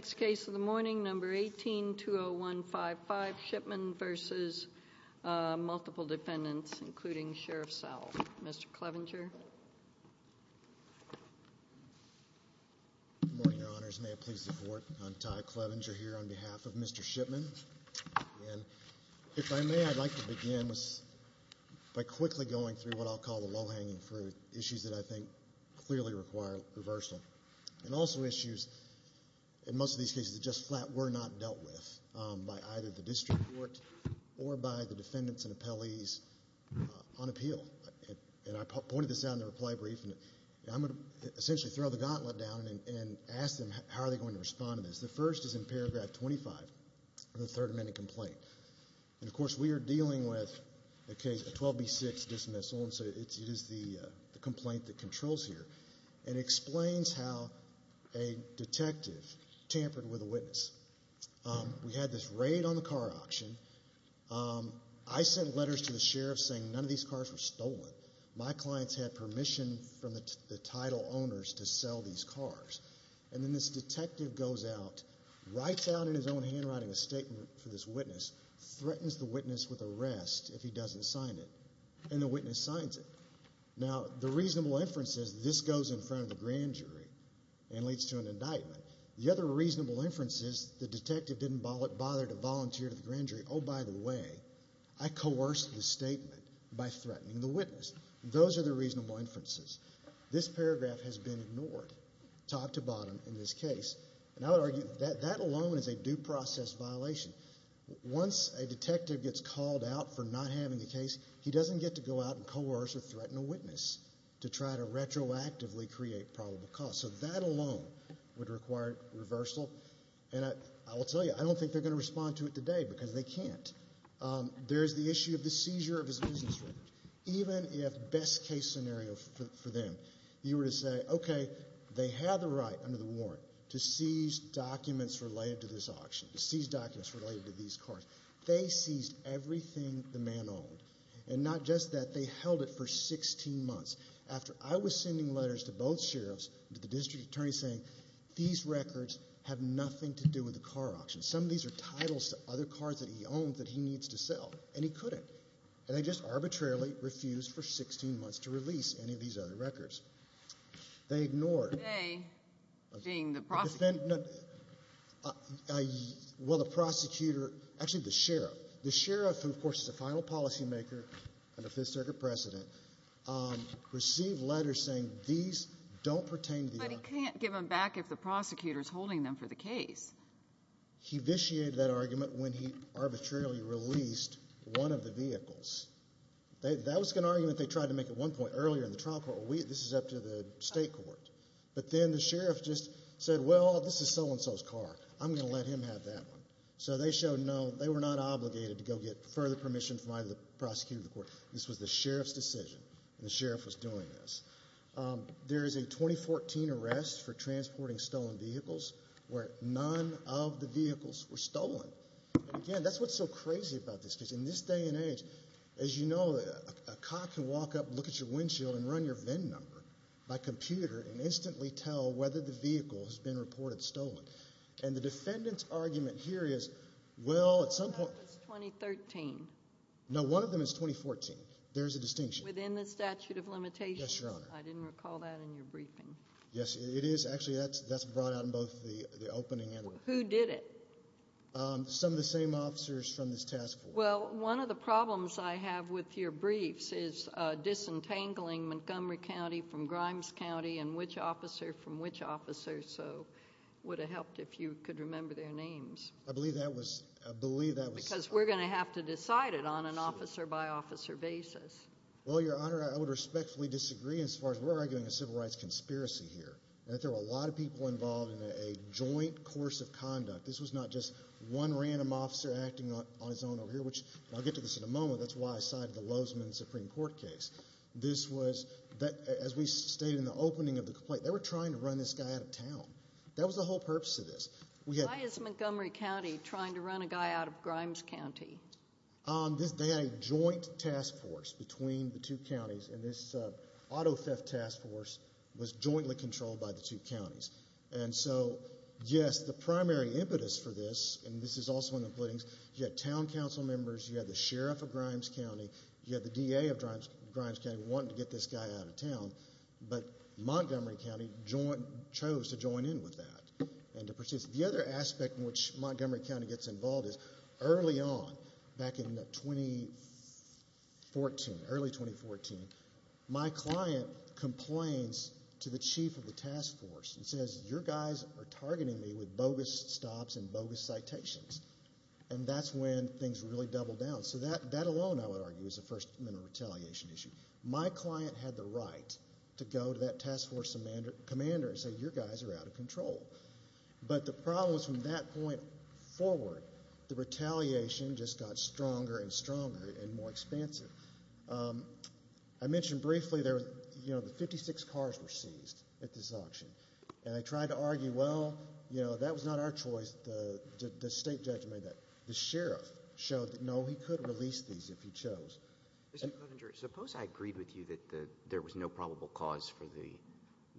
Next case of the morning, number 18-20155, Shipman v. Multiple Defendants, including Sheriff Sowell. Mr. Clevenger. Good morning, Your Honors. May it please the Court, I'm Ty Clevenger here on behalf of Mr. Shipman, and if I may, I'd like to begin by quickly going through what I'll call the low-hanging fruit, issues that I think clearly require reversal, and also issues, in most of these cases, that just flat were not dealt with by either the district court or by the defendants and appellees on appeal. And I pointed this out in the reply brief, and I'm going to essentially throw the gauntlet down and ask them how are they going to respond to this. The first is in paragraph 25 of the Third Amendment complaint, and of course, we are dealing with a 12B6 dismissal, and so it is the complaint that controls here, and explains how a detective tampered with a witness. We had this raid on the car auction. I sent letters to the sheriff saying none of these cars were stolen. My clients had permission from the title owners to sell these cars. And then this detective goes out, writes out in his own handwriting a statement for this witness, threatens the witness with arrest if he doesn't sign it, and the witness signs it. Now, the reasonable inference is this goes in front of the grand jury and leads to an indictment. The other reasonable inference is the detective didn't bother to volunteer to the grand jury. Oh, by the way, I coerced the statement by threatening the witness. Those are the reasonable inferences. This paragraph has been ignored, top to bottom, in this case, and I would argue that that alone is a due process violation. Once a detective gets called out for not having a case, he doesn't get to go out and coerce or threaten a witness to try to retroactively create probable cause. So that alone would require reversal, and I will tell you, I don't think they're going to respond to it today because they can't. There is the issue of the seizure of his business records. Even if best case scenario for them, you were to say, okay, they have the right under the warrant to seize documents related to this auction, to seize documents related to these cars. They seized everything the man owned, and not just that, they held it for 16 months. After I was sending letters to both sheriffs, to the district attorney, saying these records have nothing to do with the car auction. Some of these are titles to other cars that he owns that he needs to sell, and he couldn't. And they just arbitrarily refused for 16 months to release any of these other records. They ignored. Today, seeing the prosecutor. Well, the prosecutor, actually the sheriff. The sheriff, who of course is a final policymaker and a Fifth Circuit president, received letters saying these don't pertain to the auction. But he can't give them back if the prosecutor is holding them for the case. He vitiated that argument when he arbitrarily released one of the vehicles. That was an argument they tried to make at one point earlier in the trial court. This is up to the state court. But then the sheriff just said, well, this is so-and-so's car. I'm going to let him have that one. So they showed no, they were not obligated to go get further permission from either the prosecutor or the court. This was the sheriff's decision, and the sheriff was doing this. There is a 2014 arrest for transporting stolen vehicles where none of the vehicles were stolen. And again, that's what's so crazy about this. Because in this day and age, as you know, a cop can walk up, look at your windshield, and run your VIN number by computer and instantly tell whether the vehicle has been reported stolen. And the defendant's argument here is, well, at some point. That was 2013. No, one of them is 2014. There is a distinction. Within the statute of limitations? Yes, Your Honor. I didn't recall that in your briefing. Yes, it is. Actually, that's brought out in both the opening and the... Who did it? Some of the same officers from this task force. Well, one of the problems I have with your briefs is disentangling Montgomery County from Grimes County and which officer from which officer. So it would have helped if you could remember their names. I believe that was... I believe that was... Because we're going to have to decide it on an officer-by-officer basis. Well, Your Honor, I would respectfully disagree as far as we're arguing a civil rights conspiracy here. That there were a lot of people involved in a joint course of conduct. This was not just one random officer acting on his own over here, which I'll get to this in a moment. That's why I sided with the Lozman Supreme Court case. This was... As we stated in the opening of the complaint, they were trying to run this guy out of town. That was the whole purpose of this. Why is Montgomery County trying to run a guy out of Grimes County? They had a joint task force between the two counties, and this auto theft task force was jointly controlled by the two counties. And so, yes, the primary impetus for this, and this is also in the pleadings, you had town council members, you had the sheriff of Grimes County, you had the DA of Grimes County wanting to get this guy out of town, but Montgomery County chose to join in with that and to persist. The other aspect in which Montgomery County gets involved is early on, back in 2014, early 2014, my client complains to the chief of the task force and says, your guys are targeting me with bogus stops and bogus citations. And that's when things really double down. So that alone, I would argue, is the first mental retaliation issue. My client had the right to go to that task force commander and say, your guys are out of control. But the problem was from that point forward, the retaliation just got stronger and stronger and more expansive. I mentioned briefly, you know, the 56 cars were seized at this auction, and I tried to argue, well, you know, that was not our choice, the state judge made that. The sheriff showed that, no, he could release these if he chose. Mr. Cottinger, suppose I agreed with you that there was no probable cause for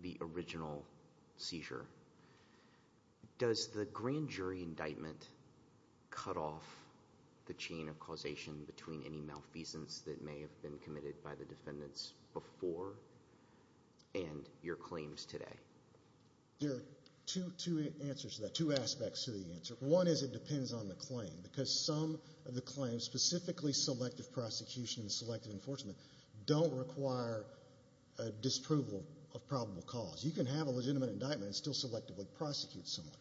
the original seizure. Does the grand jury indictment cut off the chain of causation between any malfeasance that may have been committed by the defendants before and your claims today? There are two answers to that, two aspects to the answer. One is it depends on the claim, because some of the claims, specifically selective prosecution and selective enforcement, don't require a disproval of probable cause. You can have a legitimate indictment and still selectively prosecute someone.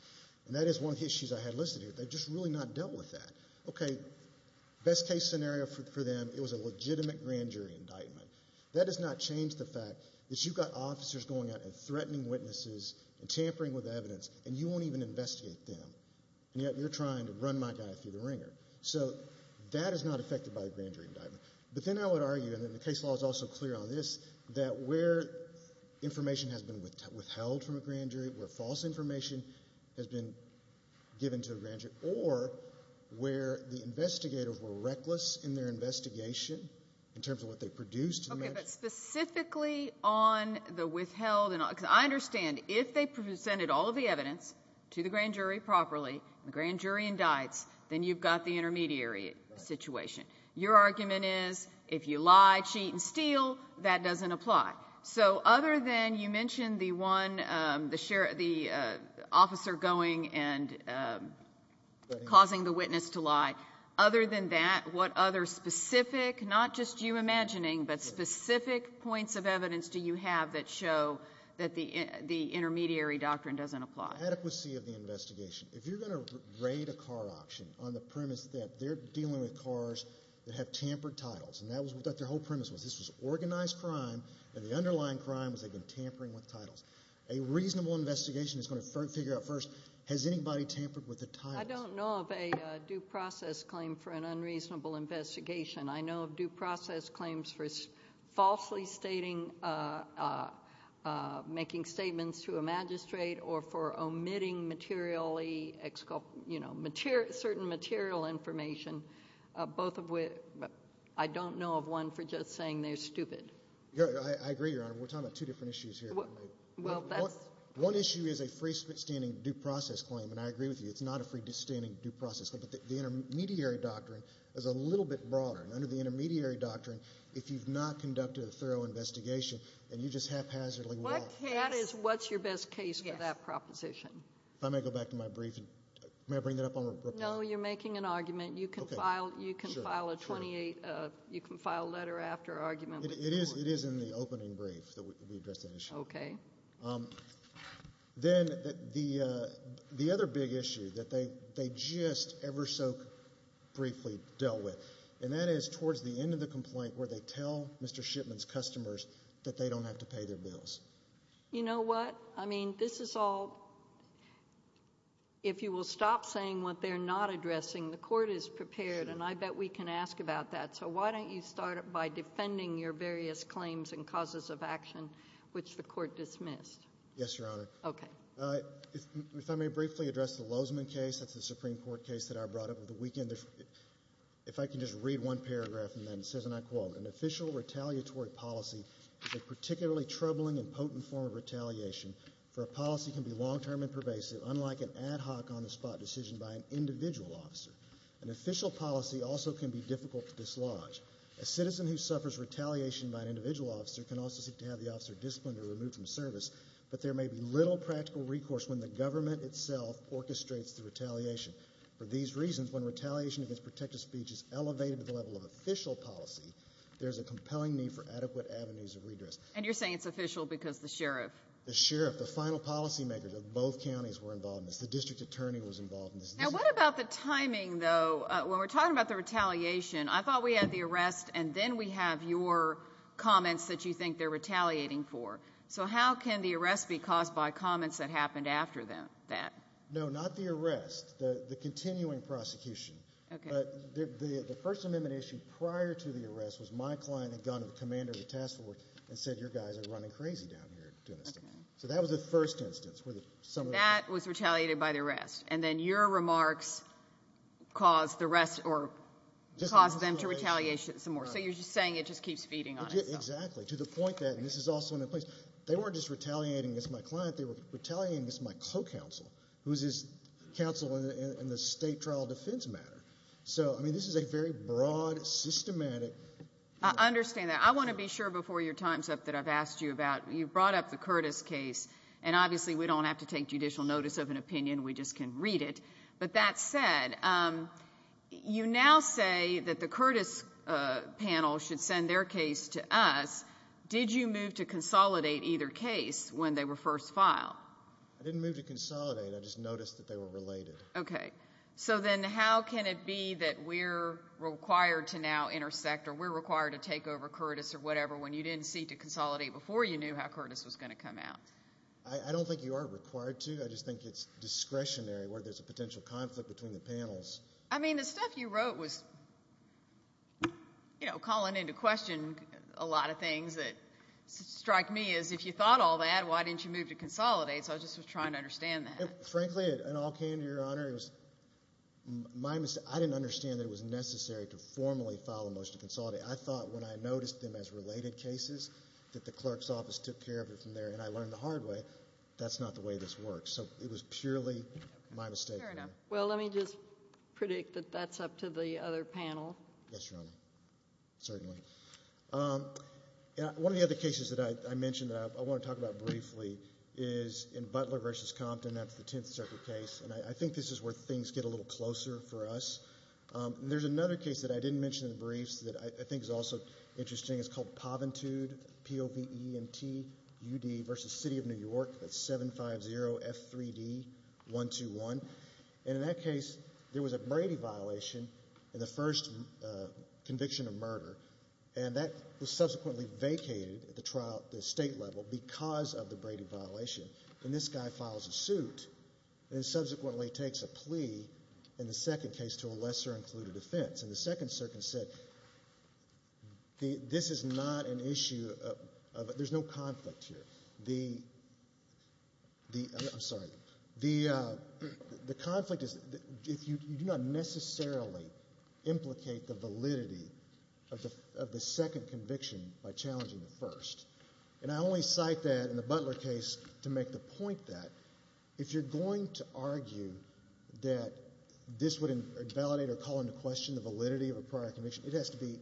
And that is one of the issues I had listed here, they've just really not dealt with that. Okay, best case scenario for them, it was a legitimate grand jury indictment. That does not change the fact that you've got officers going out and threatening witnesses and tampering with evidence, and you won't even investigate them, and yet you're trying to run my guy through the ringer. So that is not affected by a grand jury indictment. But then I would argue, and the case law is also clear on this, that where information has been withheld from a grand jury, where false information has been given to a grand jury, or where the investigators were reckless in their investigation in terms of what they produced in the match. Okay, but specifically on the withheld, because I understand if they presented all of the evidence to the grand jury properly, the grand jury indicts, then you've got the intermediary situation. Your argument is if you lie, cheat, and steal, that doesn't apply. So other than, you mentioned the officer going and causing the witness to lie. Other than that, what other specific, not just you imagining, but specific points of evidence do you have that show that the intermediary doctrine doesn't apply? Adequacy of the investigation. If you're going to raid a car auction on the premise that they're dealing with cars that have tampered titles, and that was what their whole premise was. This was organized crime, and the underlying crime was they've been tampering with titles. A reasonable investigation is going to figure out first, has anybody tampered with the titles? I don't know of a due process claim for an unreasonable investigation. I know of due process claims for falsely stating, making statements to a magistrate, or for I don't know of one for just saying they're stupid. I agree, Your Honor. We're talking about two different issues here. One issue is a freestanding due process claim, and I agree with you. It's not a freestanding due process claim, but the intermediary doctrine is a little bit broader. Under the intermediary doctrine, if you've not conducted a thorough investigation, then you just haphazardly walk. That is what's your best case for that proposition. If I may go back to my brief, may I bring that up on report? No, you're making an argument. You can file a 28, you can file a letter after argument. It is in the opening brief that we address that issue. Then the other big issue that they just ever so briefly dealt with, and that is towards the end of the complaint where they tell Mr. Shipman's customers that they don't have to pay their bills. You know what? I mean, this is all, if you will stop saying what they're not addressing. The court is prepared, and I bet we can ask about that. So why don't you start by defending your various claims and causes of action, which the court dismissed? Yes, Your Honor. Okay. If I may briefly address the Lozman case, that's the Supreme Court case that I brought up over the weekend. If I can just read one paragraph, and then it says, and I quote, an official retaliatory policy is a particularly troubling and potent form of retaliation, for a policy can be long-term and pervasive, unlike an ad hoc, on-the-spot decision by an individual officer. An official policy also can be difficult to dislodge. A citizen who suffers retaliation by an individual officer can also seek to have the officer disciplined or removed from service, but there may be little practical recourse when the government itself orchestrates the retaliation. For these reasons, when retaliation against protective speech is elevated to the level of official policy, there's a compelling need for adequate avenues of redress. And you're saying it's official because the sheriff? The sheriff, the final policy makers of both counties were involved in this. The district attorney was involved in this. Now, what about the timing, though? When we're talking about the retaliation, I thought we had the arrest, and then we have your comments that you think they're retaliating for. So how can the arrest be caused by comments that happened after that? No, not the arrest. The continuing prosecution. Okay. But the First Amendment issue prior to the arrest was my client had gone to the commander of the task force and said, your guys are running crazy down here doing this to me. So that was the first instance where someone... That was retaliated by the arrest, and then your remarks caused the rest, or caused them to retaliate some more. So you're just saying it just keeps feeding on itself. Exactly. To the point that, and this is also in a place, they weren't just retaliating against my client, they were retaliating against my co-counsel, who is his counsel in the state trial defense matter. So, I mean, this is a very broad, systematic... I understand that. I want to be sure before your time's up that I've asked you about, you brought up the Curtis case, and obviously we don't have to take judicial notice of an opinion, we just can read it. But that said, you now say that the Curtis panel should send their case to us. Did you move to consolidate either case when they were first filed? I didn't move to consolidate, I just noticed that they were related. Okay. So then how can it be that we're required to now intersect, or we're required to take over Curtis, or whatever, when you didn't seek to consolidate before you knew how Curtis was going to come out? I don't think you are required to, I just think it's discretionary where there's a potential conflict between the panels. I mean, the stuff you wrote was calling into question a lot of things that strike me as if you thought all that, why didn't you move to consolidate, so I was just trying to understand that. Frankly, it all came to your honor, I didn't understand that it was necessary to formally file a motion to consolidate. I thought when I noticed them as related cases, that the clerk's office took care of it from there, and I learned the hard way, that's not the way this works, so it was purely my mistake. Fair enough. Well, let me just predict that that's up to the other panel. Yes, Your Honor. Certainly. One of the other cases that I mentioned that I want to talk about briefly is in Butler v. Compton, that's the Tenth Circuit case, and I think this is where things get a little closer for us. There's another case that I didn't mention in the briefs that I think is also interesting, it's called Poventude, P-O-V-E-N-T-U-D, v. City of New York, that's 750F3D121, and in that case, there was a Brady violation in the first conviction of murder, and that was subsequently vacated at the state level because of the Brady violation, and this guy files a suit, and subsequently takes a plea, in the second case, to a lesser-included offense. In the Second Circuit, this is not an issue of, there's no conflict here, the, I'm sorry, the conflict is, you do not necessarily implicate the validity of the second conviction by challenging the first, and I only cite that in the Butler case to make the point that, if you're going to argue that this would invalidate or call into question the validity of a prior conviction, it has to be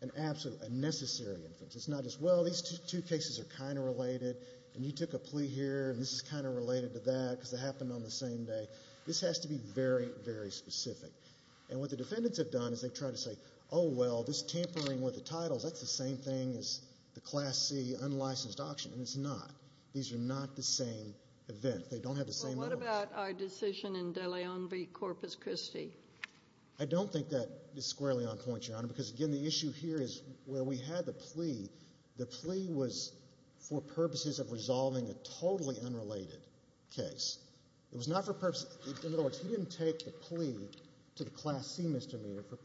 an absolute, a necessary inference, it's not just, well, these two cases are kind of related, and you took a plea here, and this is kind of related to that, because they happened on the same day, this has to be very, very specific, and what the defendants have done is they've tried to say, oh, well, this tampering with the titles, that's the same thing as the Class C unlicensed auction, and it's not, these are not the same event, they don't have the same evidence. Well, what about our decision in De Leon v. Corpus Christi? I don't think that is squarely on point, Your Honor, because, again, the issue here is where we had the plea, the plea was for purposes of resolving a totally unrelated case, it was not for purposes, in other words, he didn't take the plea to the Class C misdemeanor for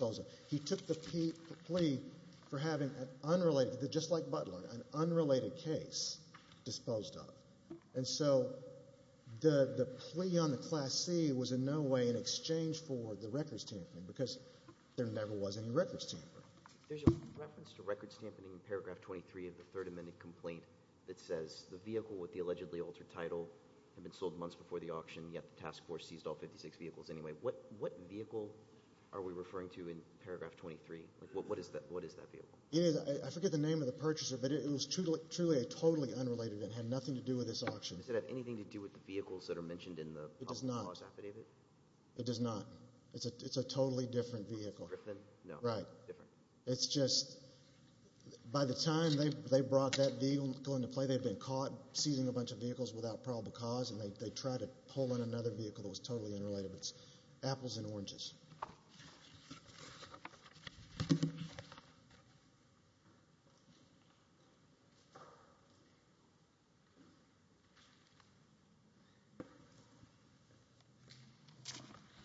that, he took the plea for having an unrelated, just like Butler, an unrelated case disposed of, and so the plea on the Class C was in no way in exchange for the records tampering, because there never was any records tampering. There's a reference to records tampering in paragraph 23 of the Third Amendment complaint that says the vehicle with the allegedly altered title had been sold months before the auction, yet the task force seized all 56 vehicles anyway. What vehicle are we referring to in paragraph 23? What is that vehicle? I forget the name of the purchaser, but it was truly a totally unrelated event, had nothing to do with this auction. Does it have anything to do with the vehicles that are mentioned in the probable cause affidavit? It does not. It's a totally different vehicle. Griffin? No. Right. Different. It's just, by the time they brought that vehicle into play, they had been caught seizing a bunch of vehicles without probable cause, and they tried to pull in another vehicle that was totally unrelated. It's apples and oranges.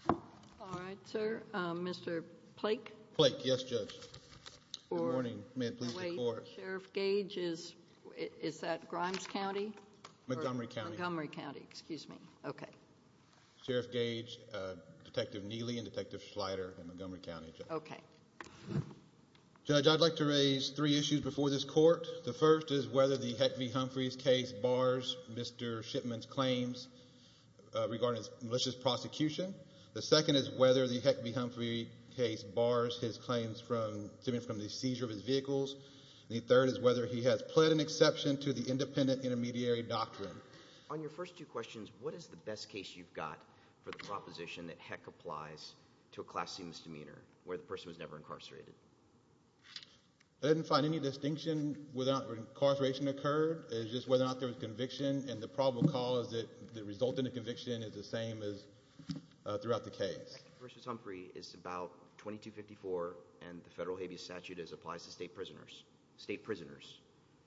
All right, sir. Mr. Plake? Plake. Yes, Judge. Good morning. May it please the Court. Wait. Sheriff Gage, is that Grimes County? All right. All right. All right. All right. All right. All right. All right. All right. All right. All right. All right. Sheriff Gage, Detective Neely, and Detective Schleider in Montgomery County, Judge. Okay. Judge, I'd like to raise three issues before this Court. The first is whether the Heck v. Humphreys case bars Mr. Shipman's claims regarding his malicious prosecution. The second is whether the Heck v. Humphreys case bars his claims from the seizure of his vehicles. The third is whether he has pled an exception to the independent intermediary doctrine. On your first two questions, what is the best case you've got for the proposition that Heck applies to a class C misdemeanor, where the person was never incarcerated? I didn't find any distinction whether or not incarceration occurred, it's just whether or not there was conviction, and the probable cause that resulted in conviction is the same as throughout the case. Heck v. Humphrey is about 2254, and the federal habeas statute applies to state prisoners. State prisoners,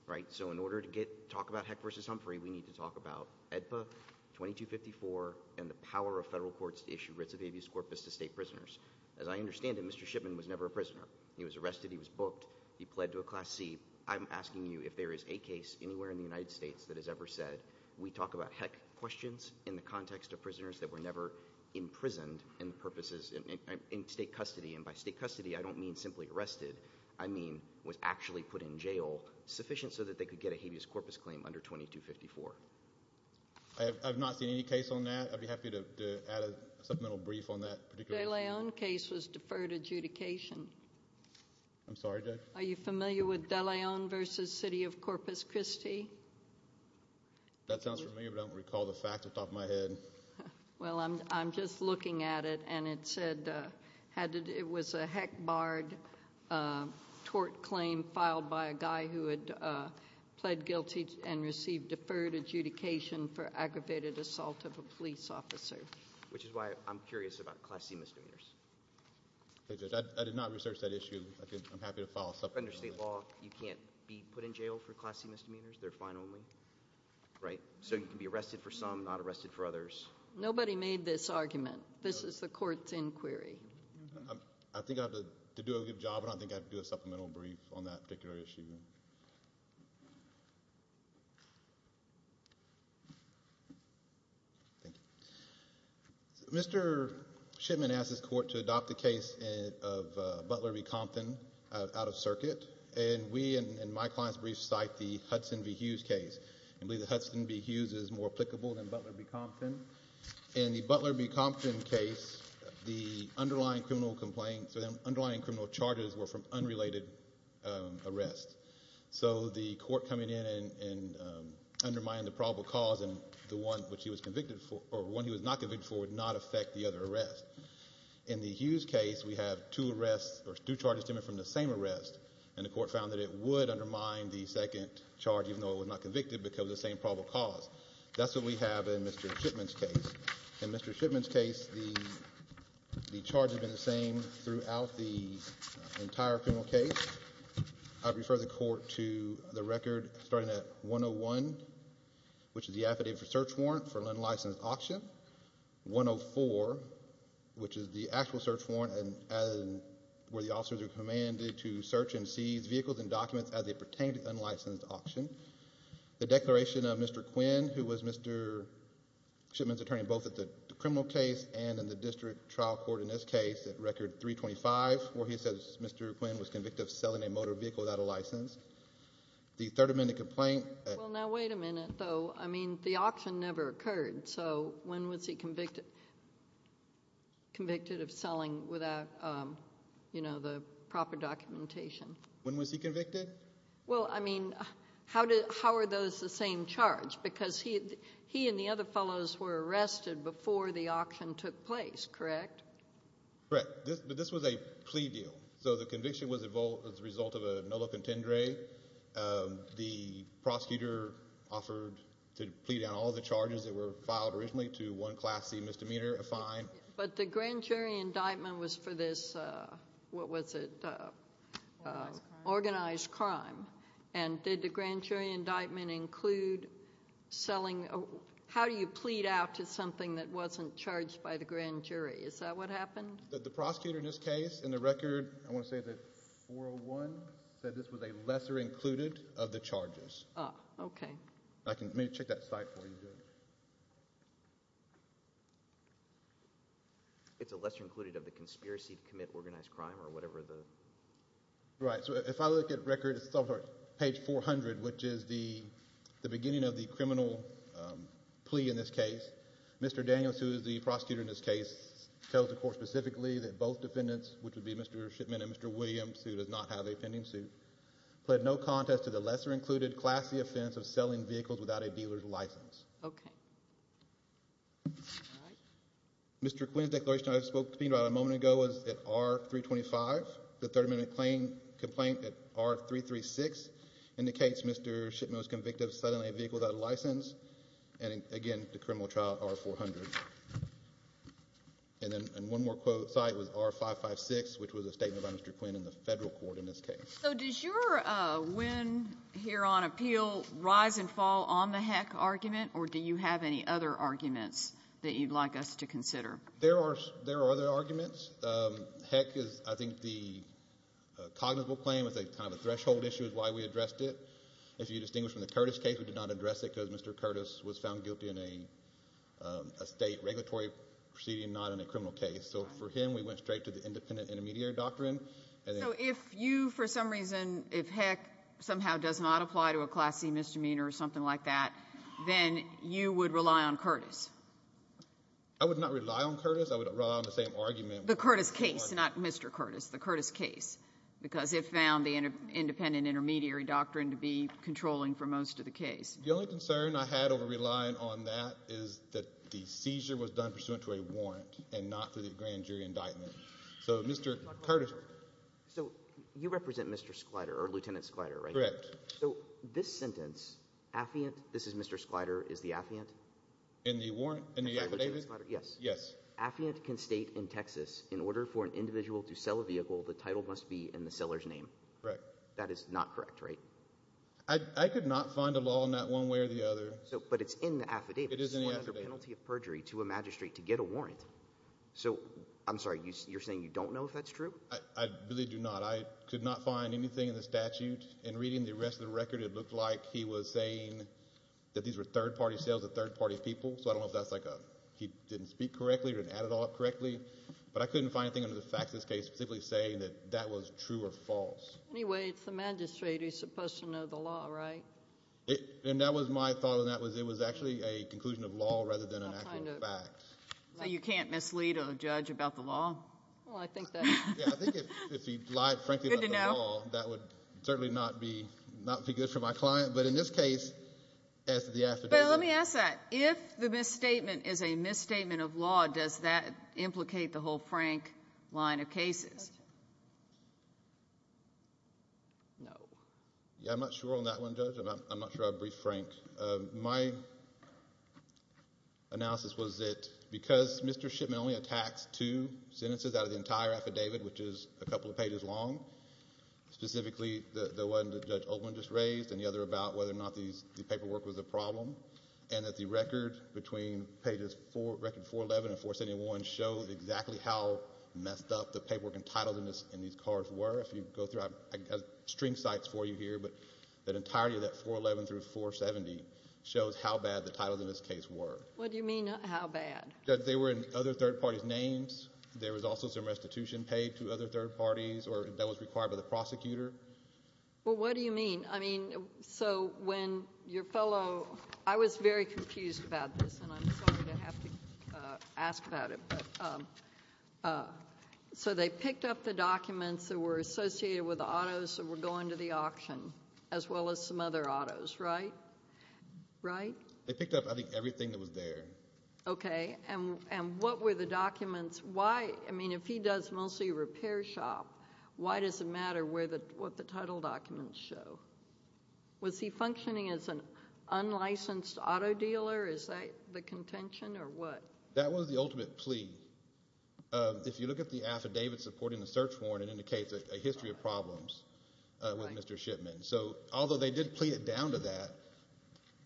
right? So in order to talk about Heck v. Humphrey, we need to talk about AEDPA, 2254, and the power of federal courts to issue writs of habeas corpus to state prisoners. As I understand it, Mr. Shipman was never a prisoner. He was arrested, he was booked, he pled to a class C. I'm asking you, if there is a case anywhere in the United States that has ever said, we talk about Heck questions in the context of prisoners that were never imprisoned in state custody, and by state custody I don't mean simply arrested, I mean was actually put in jail to get a habeas corpus claim under 2254. I have not seen any case on that. I'd be happy to add a supplemental brief on that. De Leon case was deferred adjudication. I'm sorry, Judge? Are you familiar with De Leon v. City of Corpus Christi? That sounds familiar, but I don't recall the facts off the top of my head. Well I'm just looking at it, and it said, it was a Heck barred tort claim filed by a prisoner who, under federal law, pled guilty and received deferred adjudication for aggravated assault of a police officer. Which is why I'm curious about class C misdemeanors. I did not research that issue, I'm happy to follow up on that. Under state law, you can't be put in jail for class C misdemeanors, they're fine only? Right. So you can be arrested for some, not arrested for others? Nobody made this argument. This is the court's inquiry. I think I have to do a good job, and I think I have to do a supplemental brief on that particular issue. Mr. Shipman asked this court to adopt the case of Butler v. Compton out of circuit, and we, in my client's brief, cite the Hudson v. Hughes case. We believe that Hudson v. Hughes is more applicable than Butler v. Compton. In the Butler v. Compton case, the underlying criminal complaint, the underlying criminal charges were from unrelated arrests. So the court coming in and undermining the probable cause, and the one which he was convicted for, or one he was not convicted for, would not affect the other arrest. In the Hughes case, we have two arrests, or two charges stemming from the same arrest, and the court found that it would undermine the second charge even though it was not convicted because of the same probable cause. That's what we have in Mr. Shipman's case. In Mr. Shipman's case, the charges have been the same throughout the entire criminal case. I refer the court to the record starting at 101, which is the affidavit for search warrant for an unlicensed auction, 104, which is the actual search warrant where the officers are commanded to search and seize vehicles and documents as they pertain to an unlicensed auction. The declaration of Mr. Quinn, who was Mr. Shipman's attorney both at the criminal case and in the district trial court in this case, at record 325, where he says Mr. Quinn was convicted of selling a motor vehicle without a license. The third amendment complaint... Well, now wait a minute, though. I mean, the auction never occurred, so when was he convicted of selling without the proper documentation? When was he convicted? Well, I mean, how are those the same charge? Because he and the other fellows were arrested before the auction took place, correct? Correct. But this was a plea deal, so the conviction was the result of a nulla contendere. The prosecutor offered to plea down all the charges that were filed originally to one class C misdemeanor, a fine. But the grand jury indictment was for this... What was it? Organized crime. Organized crime. And did the grand jury indictment include selling... How do you plead out to something that wasn't charged by the grand jury? Is that what happened? The prosecutor in this case, in the record, I want to say that 401, said this was a lesser included of the charges. Ah, okay. Let me check that site for you. It's a lesser included of the conspiracy to commit organized crime or whatever the... Right. So if I look at record, it's page 400, which is the beginning of the criminal plea in this case. Mr. Daniels, who is the prosecutor in this case, tells the court specifically that both defendants, which would be Mr. Shipman and Mr. Williams, who does not have a pending suit, pled no contest to the lesser included class C offense of selling vehicles without a dealer's license. Okay. All right. Mr. Quinn's declaration, I spoke to him about a moment ago, was at R-325. The 30 minute complaint at R-336 indicates Mr. Shipman was convicted of selling a vehicle without a license, and again, the criminal trial, R-400. And then one more site was R-556, which was a statement by Mr. Quinn in the federal court in this case. So does your win here on appeal rise and fall on the Heck argument, or do you have any other arguments that you'd like us to consider? There are other arguments. Heck is, I think, the cognizant claim, it's kind of a threshold issue, is why we addressed it. If you distinguish from the Curtis case, we did not address it because Mr. Curtis was found guilty in a state regulatory proceeding, not in a criminal case. So for him, we went straight to the independent intermediary doctrine. So if you, for some reason, if Heck somehow does not apply to a Class C misdemeanor or something like that, then you would rely on Curtis? I would not rely on Curtis. I would rely on the same argument. The Curtis case, not Mr. Curtis, the Curtis case, because it found the independent intermediary doctrine to be controlling for most of the case. The only concern I had over relying on that is that the seizure was done pursuant to a warrant and not to the grand jury indictment. So Mr. Curtis. So you represent Mr. Sklyder, or Lieutenant Sklyder, right? Correct. So this sentence, Affiant, this is Mr. Sklyder, is the Affiant? In the warrant, in the affidavit? Yes. Affiant can state in Texas, in order for an individual to sell a vehicle, the title must be in the seller's name. Correct. That is not correct, right? I could not find a law in that one way or the other. But it's in the affidavit. It is in the affidavit. It's sworn under penalty of perjury to a magistrate to get a warrant. So, I'm sorry, you're saying you don't know if that's true? I really do not. I could not find anything in the statute. In reading the rest of the record, it looked like he was saying that these were third-party sales to third-party people. So I don't know if that's like a, he didn't speak correctly or he didn't add it all up correctly. But I couldn't find anything under the facts of this case specifically saying that that was true or false. Anyway, it's the magistrate who's supposed to know the law, right? And that was my thought on that was it was actually a conclusion of law rather than an actual fact. So you can't mislead a judge about the law? Well, I think that... Yeah, I think if he lied frankly about the law, that would certainly not be good for my client. But in this case, as to the affidavit... But let me ask that. If the misstatement is a misstatement of law, does that implicate the whole Frank line of cases? No. Yeah, I'm not sure on that one, Judge. I'm not sure I'd brief Frank. My analysis was that because Mr. Shipman only attacks two sentences out of the entire affidavit, which is a couple of pages long, specifically the one that Judge Oatman just raised and the other about whether or not the paperwork was a problem, and that the record between pages four, record 411 and 471 show exactly how messed up the paperwork entitled in these cards were. I'm not sure if you go through. I've got string sites for you here, but the entirety of that 411 through 470 shows how bad the titles in this case were. What do you mean how bad? They were in other third parties' names. There was also some restitution paid to other third parties that was required by the prosecutor. Well what do you mean? I mean, so when your fellow... I was very confused about this, and I'm sorry to have to ask about it. So they picked up the documents that were associated with the autos that were going to the auction, as well as some other autos, right? Right? They picked up, I think, everything that was there. Okay. And what were the documents? Why? I mean, if he does mostly repair shop, why does it matter what the title documents show? Was he functioning as an unlicensed auto dealer? Is that the contention, or what? That was the ultimate plea. If you look at the affidavit supporting the search warrant, it indicates a history of problems with Mr. Shipman. So although they did plead it down to that,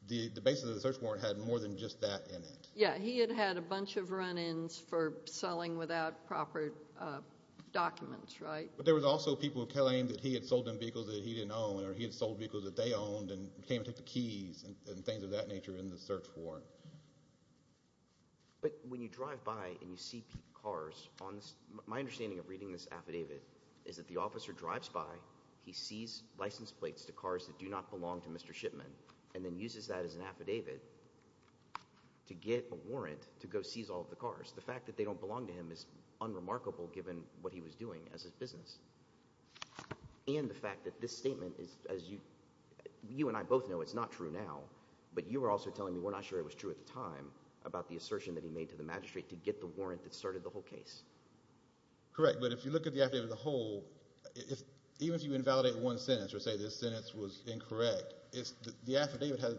the basis of the search warrant had more than just that in it. Yeah, he had had a bunch of run-ins for selling without proper documents, right? But there was also people who claimed that he had sold them vehicles that he didn't own, or he had sold vehicles that they owned, and came to take the keys, and things of that But when you drive by and you see cars on this, my understanding of reading this affidavit is that the officer drives by, he sees license plates to cars that do not belong to Mr. Shipman, and then uses that as an affidavit to get a warrant to go seize all of the cars. The fact that they don't belong to him is unremarkable, given what he was doing as his business. And the fact that this statement is, as you and I both know, it's not true now, but you are also telling me we're not sure it was true at the time, about the assertion that he made to the magistrate to get the warrant that started the whole case. Correct, but if you look at the affidavit as a whole, even if you invalidate one sentence, or say this sentence was incorrect, the affidavit has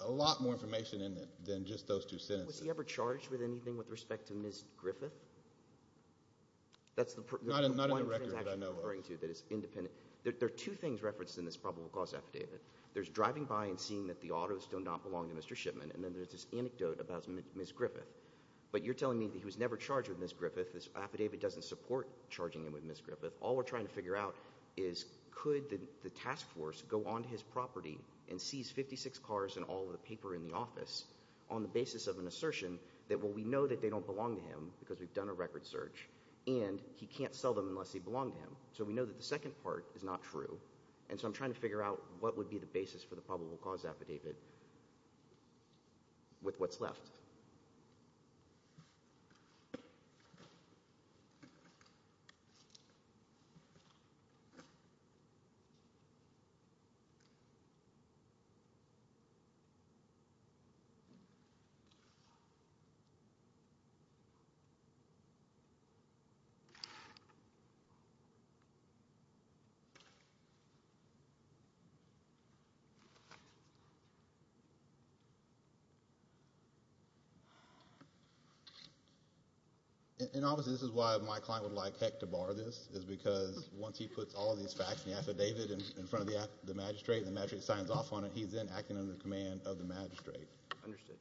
a lot more information in it than just those two sentences. Was he ever charged with anything with respect to Ms. Griffith? That's the one transaction you're referring to that is independent. There are two things referenced in this probable cause affidavit. There's driving by and seeing that the autos do not belong to Mr. Shipman, and then there's this anecdote about Ms. Griffith. But you're telling me that he was never charged with Ms. Griffith, this affidavit doesn't support charging him with Ms. Griffith. All we're trying to figure out is, could the task force go onto his property and seize 56 cars and all of the paper in the office on the basis of an assertion that, well, we know that they don't belong to him, because we've done a record search, and he can't sell them unless they belong to him. So we know that the second part is not true, and so I'm trying to figure out what would be the basis for the probable cause affidavit with what's left. And obviously, this is why my client would like Heck to borrow this, is because once he puts all of these facts in the affidavit in front of the magistrate and the magistrate signs off on it, he's then acting under the command of the magistrate. Understood.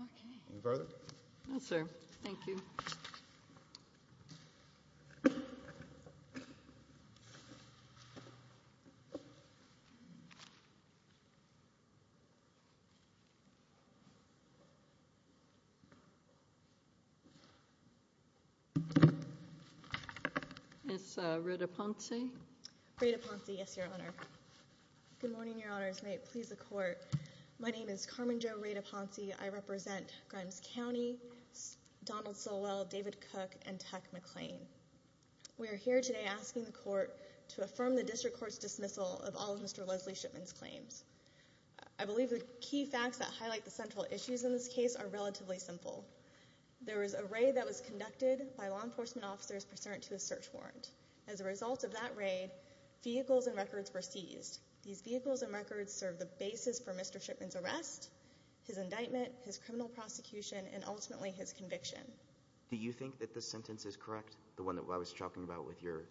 Okay. Any further? No, sir. Thank you. Ms. Rueda-Ponce? Rueda-Ponce. Yes, Your Honor. Good morning, Your Honors. May it please the Court. My name is Carmen Jo Rueda-Ponce. I represent Grimes County, Donald Silwell, David Cook, and Tuck McClain. We are here today asking the Court to affirm the District Court's dismissal of all of Mr. Leslie Shipman's claims. I believe the key facts that highlight the central issues in this case are relatively simple. There was a raid that was conducted by law enforcement officers pursuant to a search warrant. As a result of that raid, vehicles and records were seized. These vehicles and records serve the basis for Mr. Shipman's arrest, his indictment, his criminal prosecution, and ultimately his conviction. Do you think that this sentence is correct, the one that I was talking about with your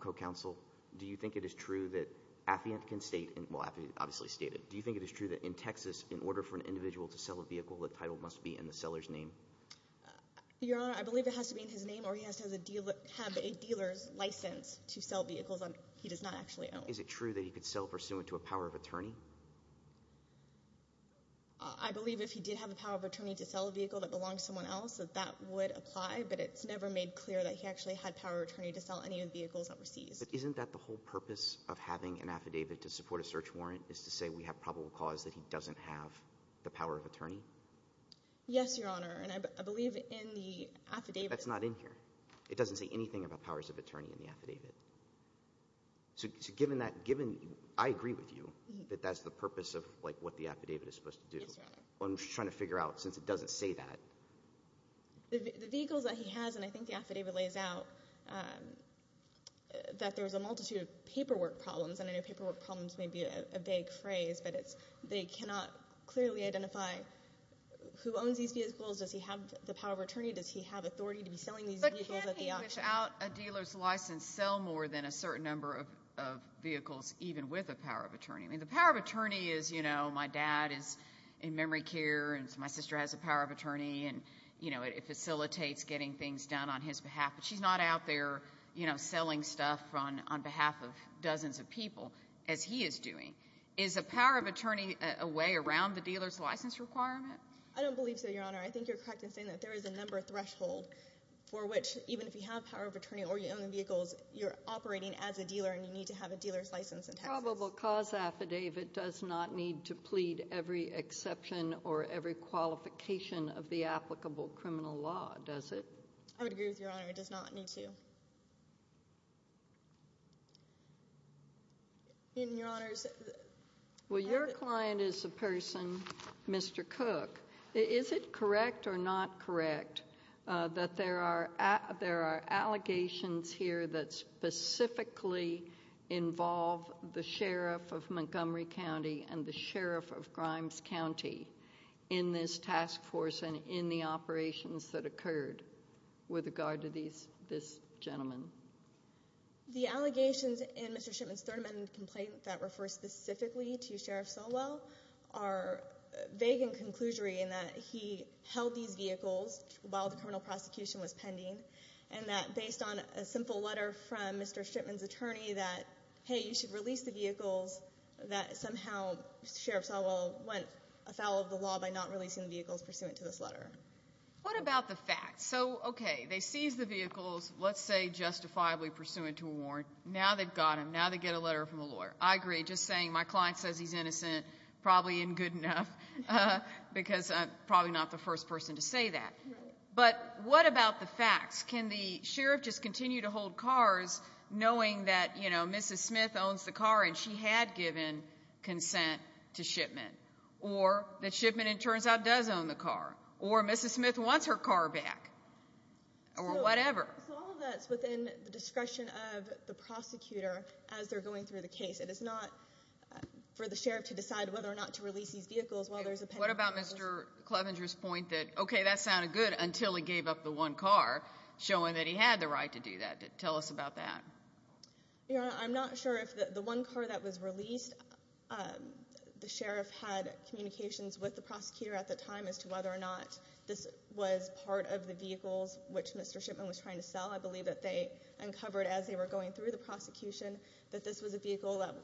co-counsel? Do you think it is true that Affiant can state – well, Affiant obviously stated. Do you think it is true that in Texas, in order for an individual to sell a vehicle, the title must be in the seller's name? Your Honor, I believe it has to be in his name or he has to have a dealer's license to sell vehicles that he does not actually own. Is it true that he could sell pursuant to a power of attorney? I believe if he did have a power of attorney to sell a vehicle that belonged to someone else that that would apply, but it's never made clear that he actually had power of attorney to sell any of the vehicles that were seized. But isn't that the whole purpose of having an affidavit to support a search warrant is to say we have probable cause that he doesn't have the power of attorney? Yes, Your Honor, and I believe in the affidavit – That's not in here. It doesn't say anything about powers of attorney in the affidavit. So given that – I agree with you that that's the purpose of what the affidavit is supposed to do. Yes, Your Honor. I'm just trying to figure out since it doesn't say that. The vehicles that he has, and I think the affidavit lays out that there's a multitude of paperwork problems, and I know paperwork problems may be a vague phrase, but they cannot clearly identify who owns these vehicles. Does he have the power of attorney? Does he have authority to be selling these vehicles at the auction? Would you wish out a dealer's license sell more than a certain number of vehicles even with a power of attorney? The power of attorney is my dad is in memory care, and my sister has a power of attorney, and it facilitates getting things done on his behalf. But she's not out there selling stuff on behalf of dozens of people as he is doing. Is a power of attorney a way around the dealer's license requirement? I don't believe so, Your Honor. I think you're correct in saying that there is a number threshold for which even if you have power of attorney or you own the vehicles, you're operating as a dealer, and you need to have a dealer's license in Texas. A probable cause affidavit does not need to plead every exception or every qualification of the applicable criminal law, does it? I would agree with Your Honor. It does not need to. Well, your client is a person, Mr. Cook. Is it correct or not correct that there are allegations here that specifically involve the sheriff of Montgomery County and the sheriff of Grimes County in this task force and in the operations that occurred with regard to these vehicles? The allegations in Mr. Shipman's third amendment complaint that refers specifically to Sheriff Solwell are vague in conclusion in that he held these vehicles while the criminal prosecution was pending, and that based on a simple letter from Mr. Shipman's attorney that, hey, you should release the vehicles, that somehow Sheriff Solwell went afoul of the law by not releasing the vehicles pursuant to this letter. What about the facts? So, okay, they seized the vehicles, let's say justifiably pursuant to a warrant. Now they've got them. Now they get a letter from a lawyer. I agree. Just saying my client says he's innocent probably isn't good enough because I'm probably not the first person to say that. But what about the facts? Can the sheriff just continue to hold cars knowing that, you know, Mrs. Smith owns the car and she had given consent to Shipman, or that Shipman, it turns out, does own the car, or Mrs. Smith wants her car back, or whatever? So all of that's within the discretion of the prosecutor as they're going through the case. It is not for the sheriff to decide whether or not to release these vehicles while there's a pending case. What about Mr. Clevenger's point that, okay, that sounded good until he gave up the one car, showing that he had the right to do that? Tell us about that. Your Honor, I'm not sure if the one car that was released, the sheriff had communications with the prosecutor at the time as to whether or not this was part of the vehicles which Mr. Shipman was trying to sell. I believe that they uncovered as they were going through the prosecution that this was a vehicle that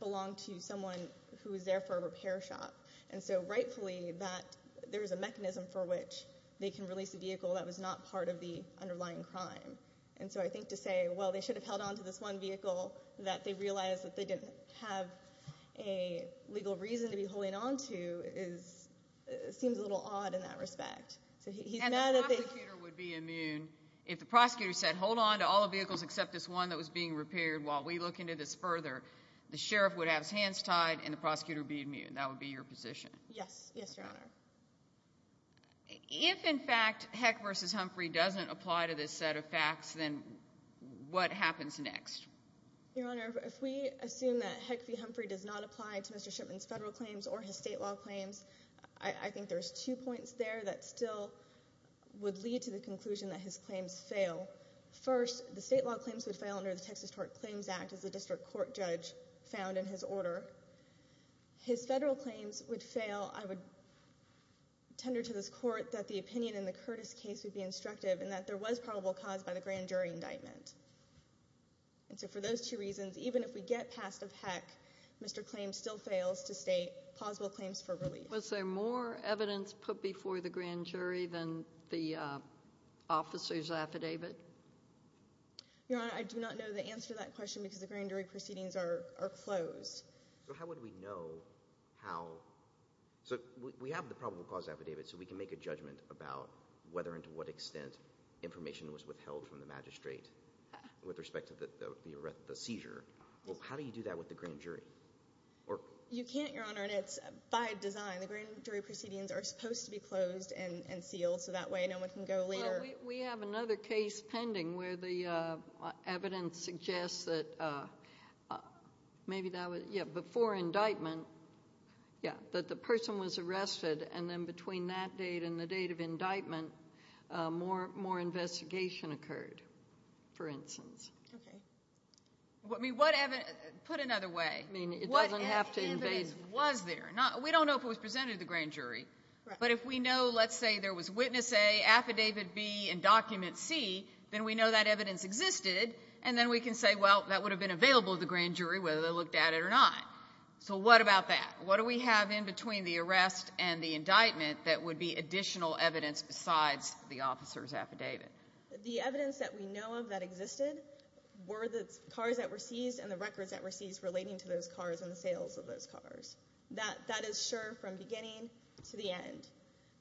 belonged to someone who was there for a repair shop. And so rightfully that there is a mechanism for which they can release a vehicle that was not part of the underlying crime. And so I think to say, well, they should have held on to this one vehicle that they realized that they didn't have a legal reason to be holding on to seems a little odd in that respect. And the prosecutor would be immune if the prosecutor said, hold on to all the vehicles except this one that was being repaired while we look into this further. The sheriff would have his hands tied, and the prosecutor would be immune. That would be your position. Yes, Your Honor. If, in fact, Heck v. Humphrey doesn't apply to this set of facts, then what happens next? Your Honor, if we assume that Heck v. Humphrey does not apply to Mr. Shipman's federal claims or his state law claims, I think there's two points there that still would lead to the conclusion that his claims fail. First, the state law claims would fail under the Texas Court Claims Act as the district court judge found in his order. His federal claims would fail. I would tender to this court that the opinion in the Curtis case would be instructive and that there was probable cause by the grand jury indictment. And so for those two reasons, even if we get past of Heck, Mr. Claims still fails to state plausible claims for relief. Was there more evidence put before the grand jury than the officer's affidavit? Your Honor, I do not know the answer to that question because the grand jury proceedings are closed. How would we know how? We have the probable cause affidavit, so we can make a judgment about whether and to what extent information was withheld from the magistrate with respect to the seizure. How do you do that with the grand jury? You can't, Your Honor, and it's by design. The grand jury proceedings are supposed to be closed and sealed, so that way no one can go later. We have another case pending where the evidence suggests that maybe that was, yeah, before indictment, yeah, that the person was arrested, and then between that date and the date of indictment, more investigation occurred, for instance. Okay. I mean, put another way. I mean, it doesn't have to invade. What evidence was there? We don't know if it was presented to the grand jury. But if we know, let's say, there was witness A, affidavit B, and document C, then we know that evidence existed, and then we can say, well, that would have been available to the grand jury whether they looked at it or not. So what about that? What do we have in between the arrest and the indictment that would be additional evidence besides the officer's affidavit? The evidence that we know of that existed were the cars that were seized and the records that were seized relating to those cars and the sales of those cars. That is sure from beginning to the end.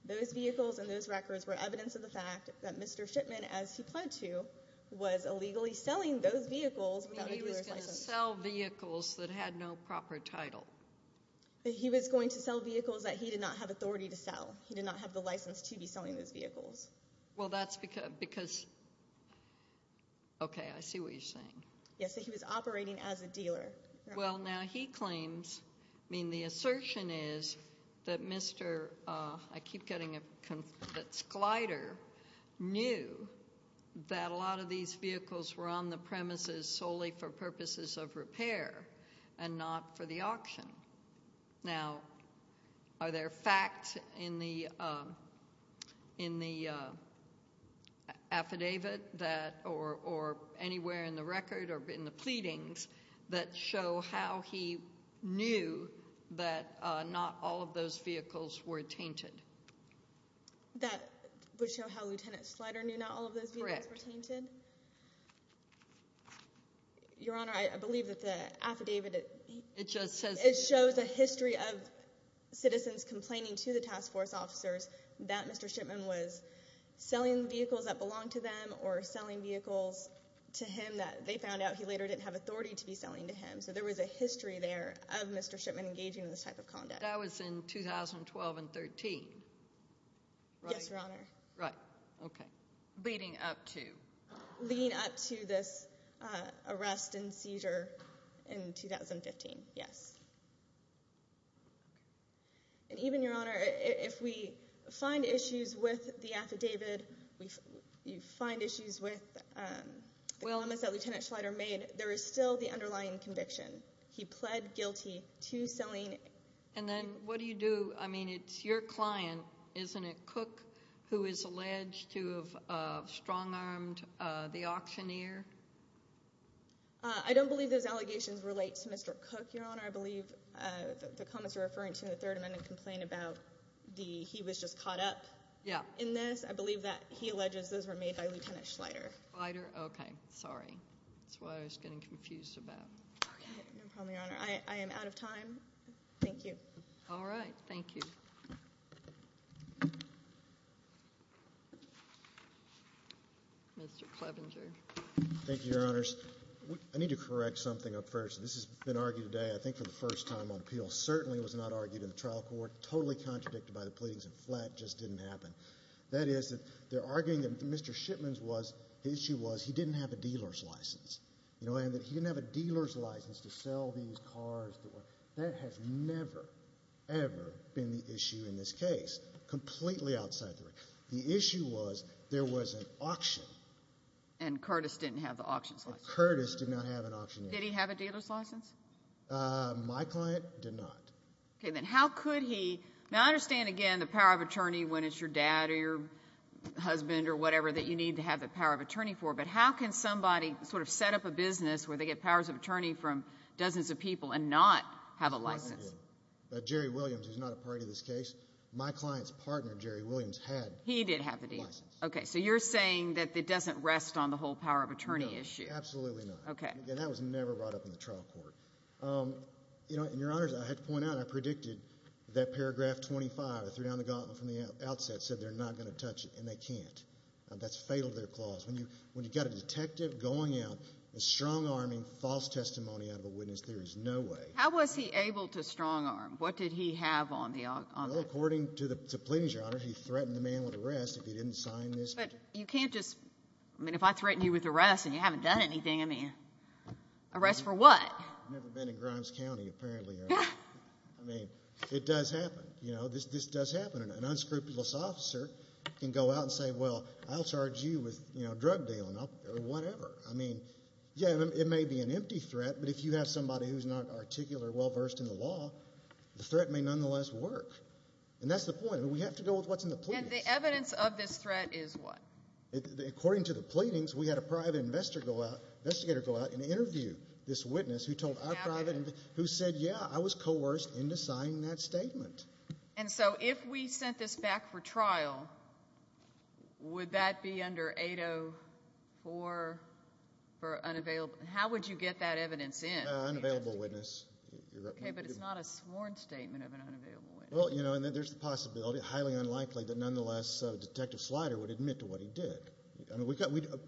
Those vehicles and those records were evidence of the fact that Mr. Shipman, as he pled to, was illegally selling those vehicles without a dealer's license. He was going to sell vehicles that had no proper title. He was going to sell vehicles that he did not have authority to sell. He did not have the license to be selling those vehicles. Well, that's because, okay, I see what you're saying. Yes, he was operating as a dealer. Well, now he claims, I mean, the assertion is that Mr. I keep getting a conflicts glider knew that a lot of these vehicles were on the premises solely for purposes of repair and not for the auction. Now, are there facts in the affidavit or anywhere in the record or in the pleadings that show how he knew that not all of those vehicles were tainted? That would show how Lieutenant Slider knew not all of those vehicles were tainted? Correct. Your Honor, I believe that the affidavit shows a history of citizens complaining to the task force officers that Mr. Shipman was selling vehicles that belonged to them or selling vehicles to him that they found out he later didn't have authority to be selling to him. So there was a history there of Mr. Shipman engaging in this type of conduct. That was in 2012 and 13, right? Yes, Your Honor. Right, okay. Leading up to? Leading up to this arrest and seizure in 2015, yes. And even, Your Honor, if we find issues with the affidavit, you find issues with the comments that Lieutenant Slider made, there is still the underlying conviction. He pled guilty to selling. And then what do you do? I mean, it's your client, isn't it, Cook, who is alleged to have strong-armed the auctioneer? I don't believe those allegations relate to Mr. Cook, Your Honor. I believe the comments you're referring to in the Third Amendment complain about he was just caught up in this. I believe that he alleges those were made by Lieutenant Slider. Slider? Okay, sorry. That's what I was getting confused about. Okay, no problem, Your Honor. I am out of time. Thank you. All right. Thank you. Mr. Clevenger. Thank you, Your Honors. I need to correct something up first. This has been argued today. I think for the first time on appeal, certainly it was not argued in the trial court, totally contradicted by the pleadings in flat, just didn't happen. That is, they're arguing that Mr. Shipman's issue was he didn't have a dealer's license, you know, and that he didn't have a dealer's license to sell these cars. That has never, ever been the issue in this case, completely outside the region. The issue was there was an auction. And Curtis didn't have the auction's license. Curtis did not have an auctioneer's license. Did he have a dealer's license? My client did not. Okay, then how could he? Now, I understand, again, the power of attorney when it's your dad or your husband or whatever that you need to have the power of attorney for, but how can somebody sort of set up a business where they get powers of attorney from dozens of people and not have a license? Jerry Williams is not a party to this case. My client's partner, Jerry Williams, had a license. He did have a dealer's license. Okay, so you're saying that it doesn't rest on the whole power of attorney issue. No, absolutely not. Okay. And that was never brought up in the trial court. You know, and, Your Honors, I have to point out I predicted that Paragraph 25, I threw down the gauntlet from the outset, said they're not going to touch it, and they can't. That's fatal to their clause. When you've got a detective going out and strong-arming false testimony out of a witness, there is no way. How was he able to strong-arm? What did he have on the – Well, according to the plaintiffs, Your Honors, he threatened the man with arrest if he didn't sign this. But you can't just – I mean, if I threaten you with arrest and you haven't done anything, I mean, arrest for what? I've never been in Grimes County, apparently. I mean, it does happen. This does happen. An unscrupulous officer can go out and say, well, I'll charge you with drug dealing or whatever. I mean, yeah, it may be an empty threat, but if you have somebody who's not articulate or well-versed in the law, the threat may nonetheless work. And that's the point. We have to go with what's in the police. And the evidence of this threat is what? According to the pleadings, we had a private investigator go out and interview this witness who told our private – Who said, yeah, I was coerced into signing that statement. And so if we sent this back for trial, would that be under 804 for unavailable – how would you get that evidence in? An unavailable witness. Okay, but it's not a sworn statement of an unavailable witness. Well, you know, there's the possibility, highly unlikely, that nonetheless Detective Slider would admit to what he did.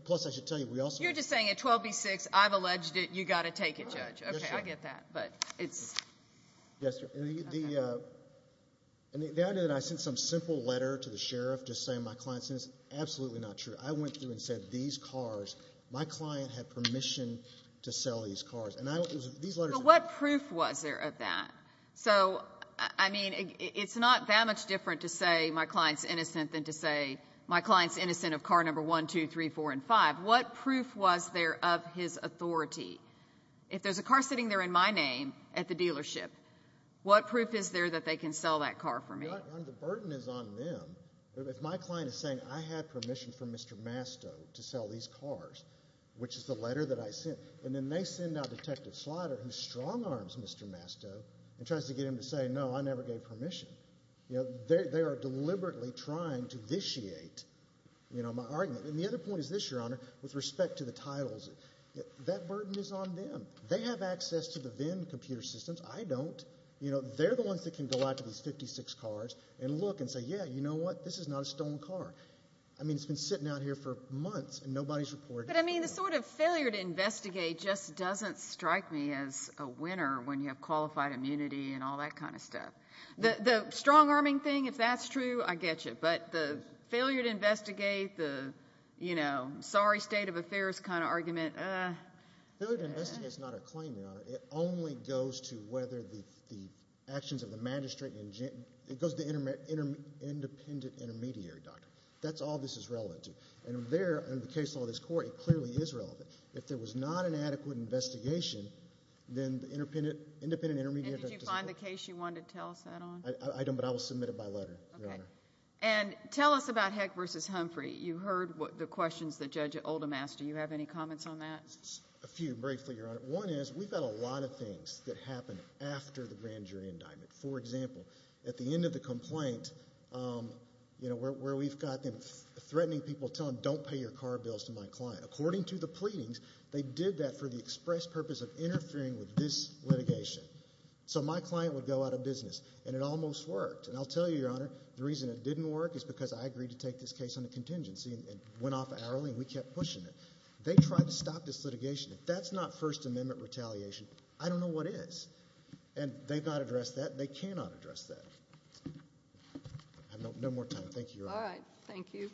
Plus, I should tell you, we also – You're just saying at 12B6, I've alleged it, you've got to take it, Judge. Okay, I get that, but it's – Yes, sir. The idea that I sent some simple letter to the sheriff just saying my client sent it is absolutely not true. I went through and said these cars, my client had permission to sell these cars. And these letters – But what proof was there of that? So, I mean, it's not that much different to say my client's innocent than to say my client's innocent of car number 1, 2, 3, 4, and 5. What proof was there of his authority? If there's a car sitting there in my name at the dealership, what proof is there that they can sell that car for me? The burden is on them. If my client is saying I had permission from Mr. Masto to sell these cars, which is the letter that I sent, and then they send out Detective Slider, who strong-arms Mr. Masto and tries to get him to say, no, I never gave permission, they are deliberately trying to vitiate my argument. And the other point is this, Your Honor, with respect to the titles. That burden is on them. They have access to the VIN computer systems. I don't. They're the ones that can go out to these 56 cars and look and say, yeah, you know what, this is not a stolen car. I mean, it's been sitting out here for months and nobody's reported it. But, I mean, the sort of failure to investigate just doesn't strike me as a winner when you have qualified immunity and all that kind of stuff. The strong-arming thing, if that's true, I get you. But the failure to investigate, the, you know, sorry, state of affairs kind of argument, ah. Failure to investigate is not a claim, Your Honor. It only goes to whether the actions of the magistrate, it goes to the independent intermediary doctor. That's all this is relevant to. And there, under the case law of this court, it clearly is relevant. If there was not an adequate investigation, then the independent intermediary doctor. And did you find the case you wanted to tell us that on? I don't, but I will submit it by letter, Your Honor. Okay. And tell us about Heck v. Humphrey. You heard the questions that Judge Oldham asked. Do you have any comments on that? A few, briefly, Your Honor. One is we've got a lot of things that happen after the grand jury indictment. For example, at the end of the complaint, you know, where we've got them threatening people, tell them don't pay your car bills to my client. According to the pleadings, they did that for the express purpose of interfering with this litigation. So my client would go out of business. And it almost worked. And I'll tell you, Your Honor, the reason it didn't work is because I agreed to take this case on a contingency and went off hourly and we kept pushing it. They tried to stop this litigation. If that's not First Amendment retaliation, I don't know what is. And they've not addressed that and they cannot address that. I have no more time. Thank you, Your Honor. All right. Thank you.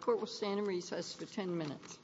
Court will stand in recess for 10 minutes.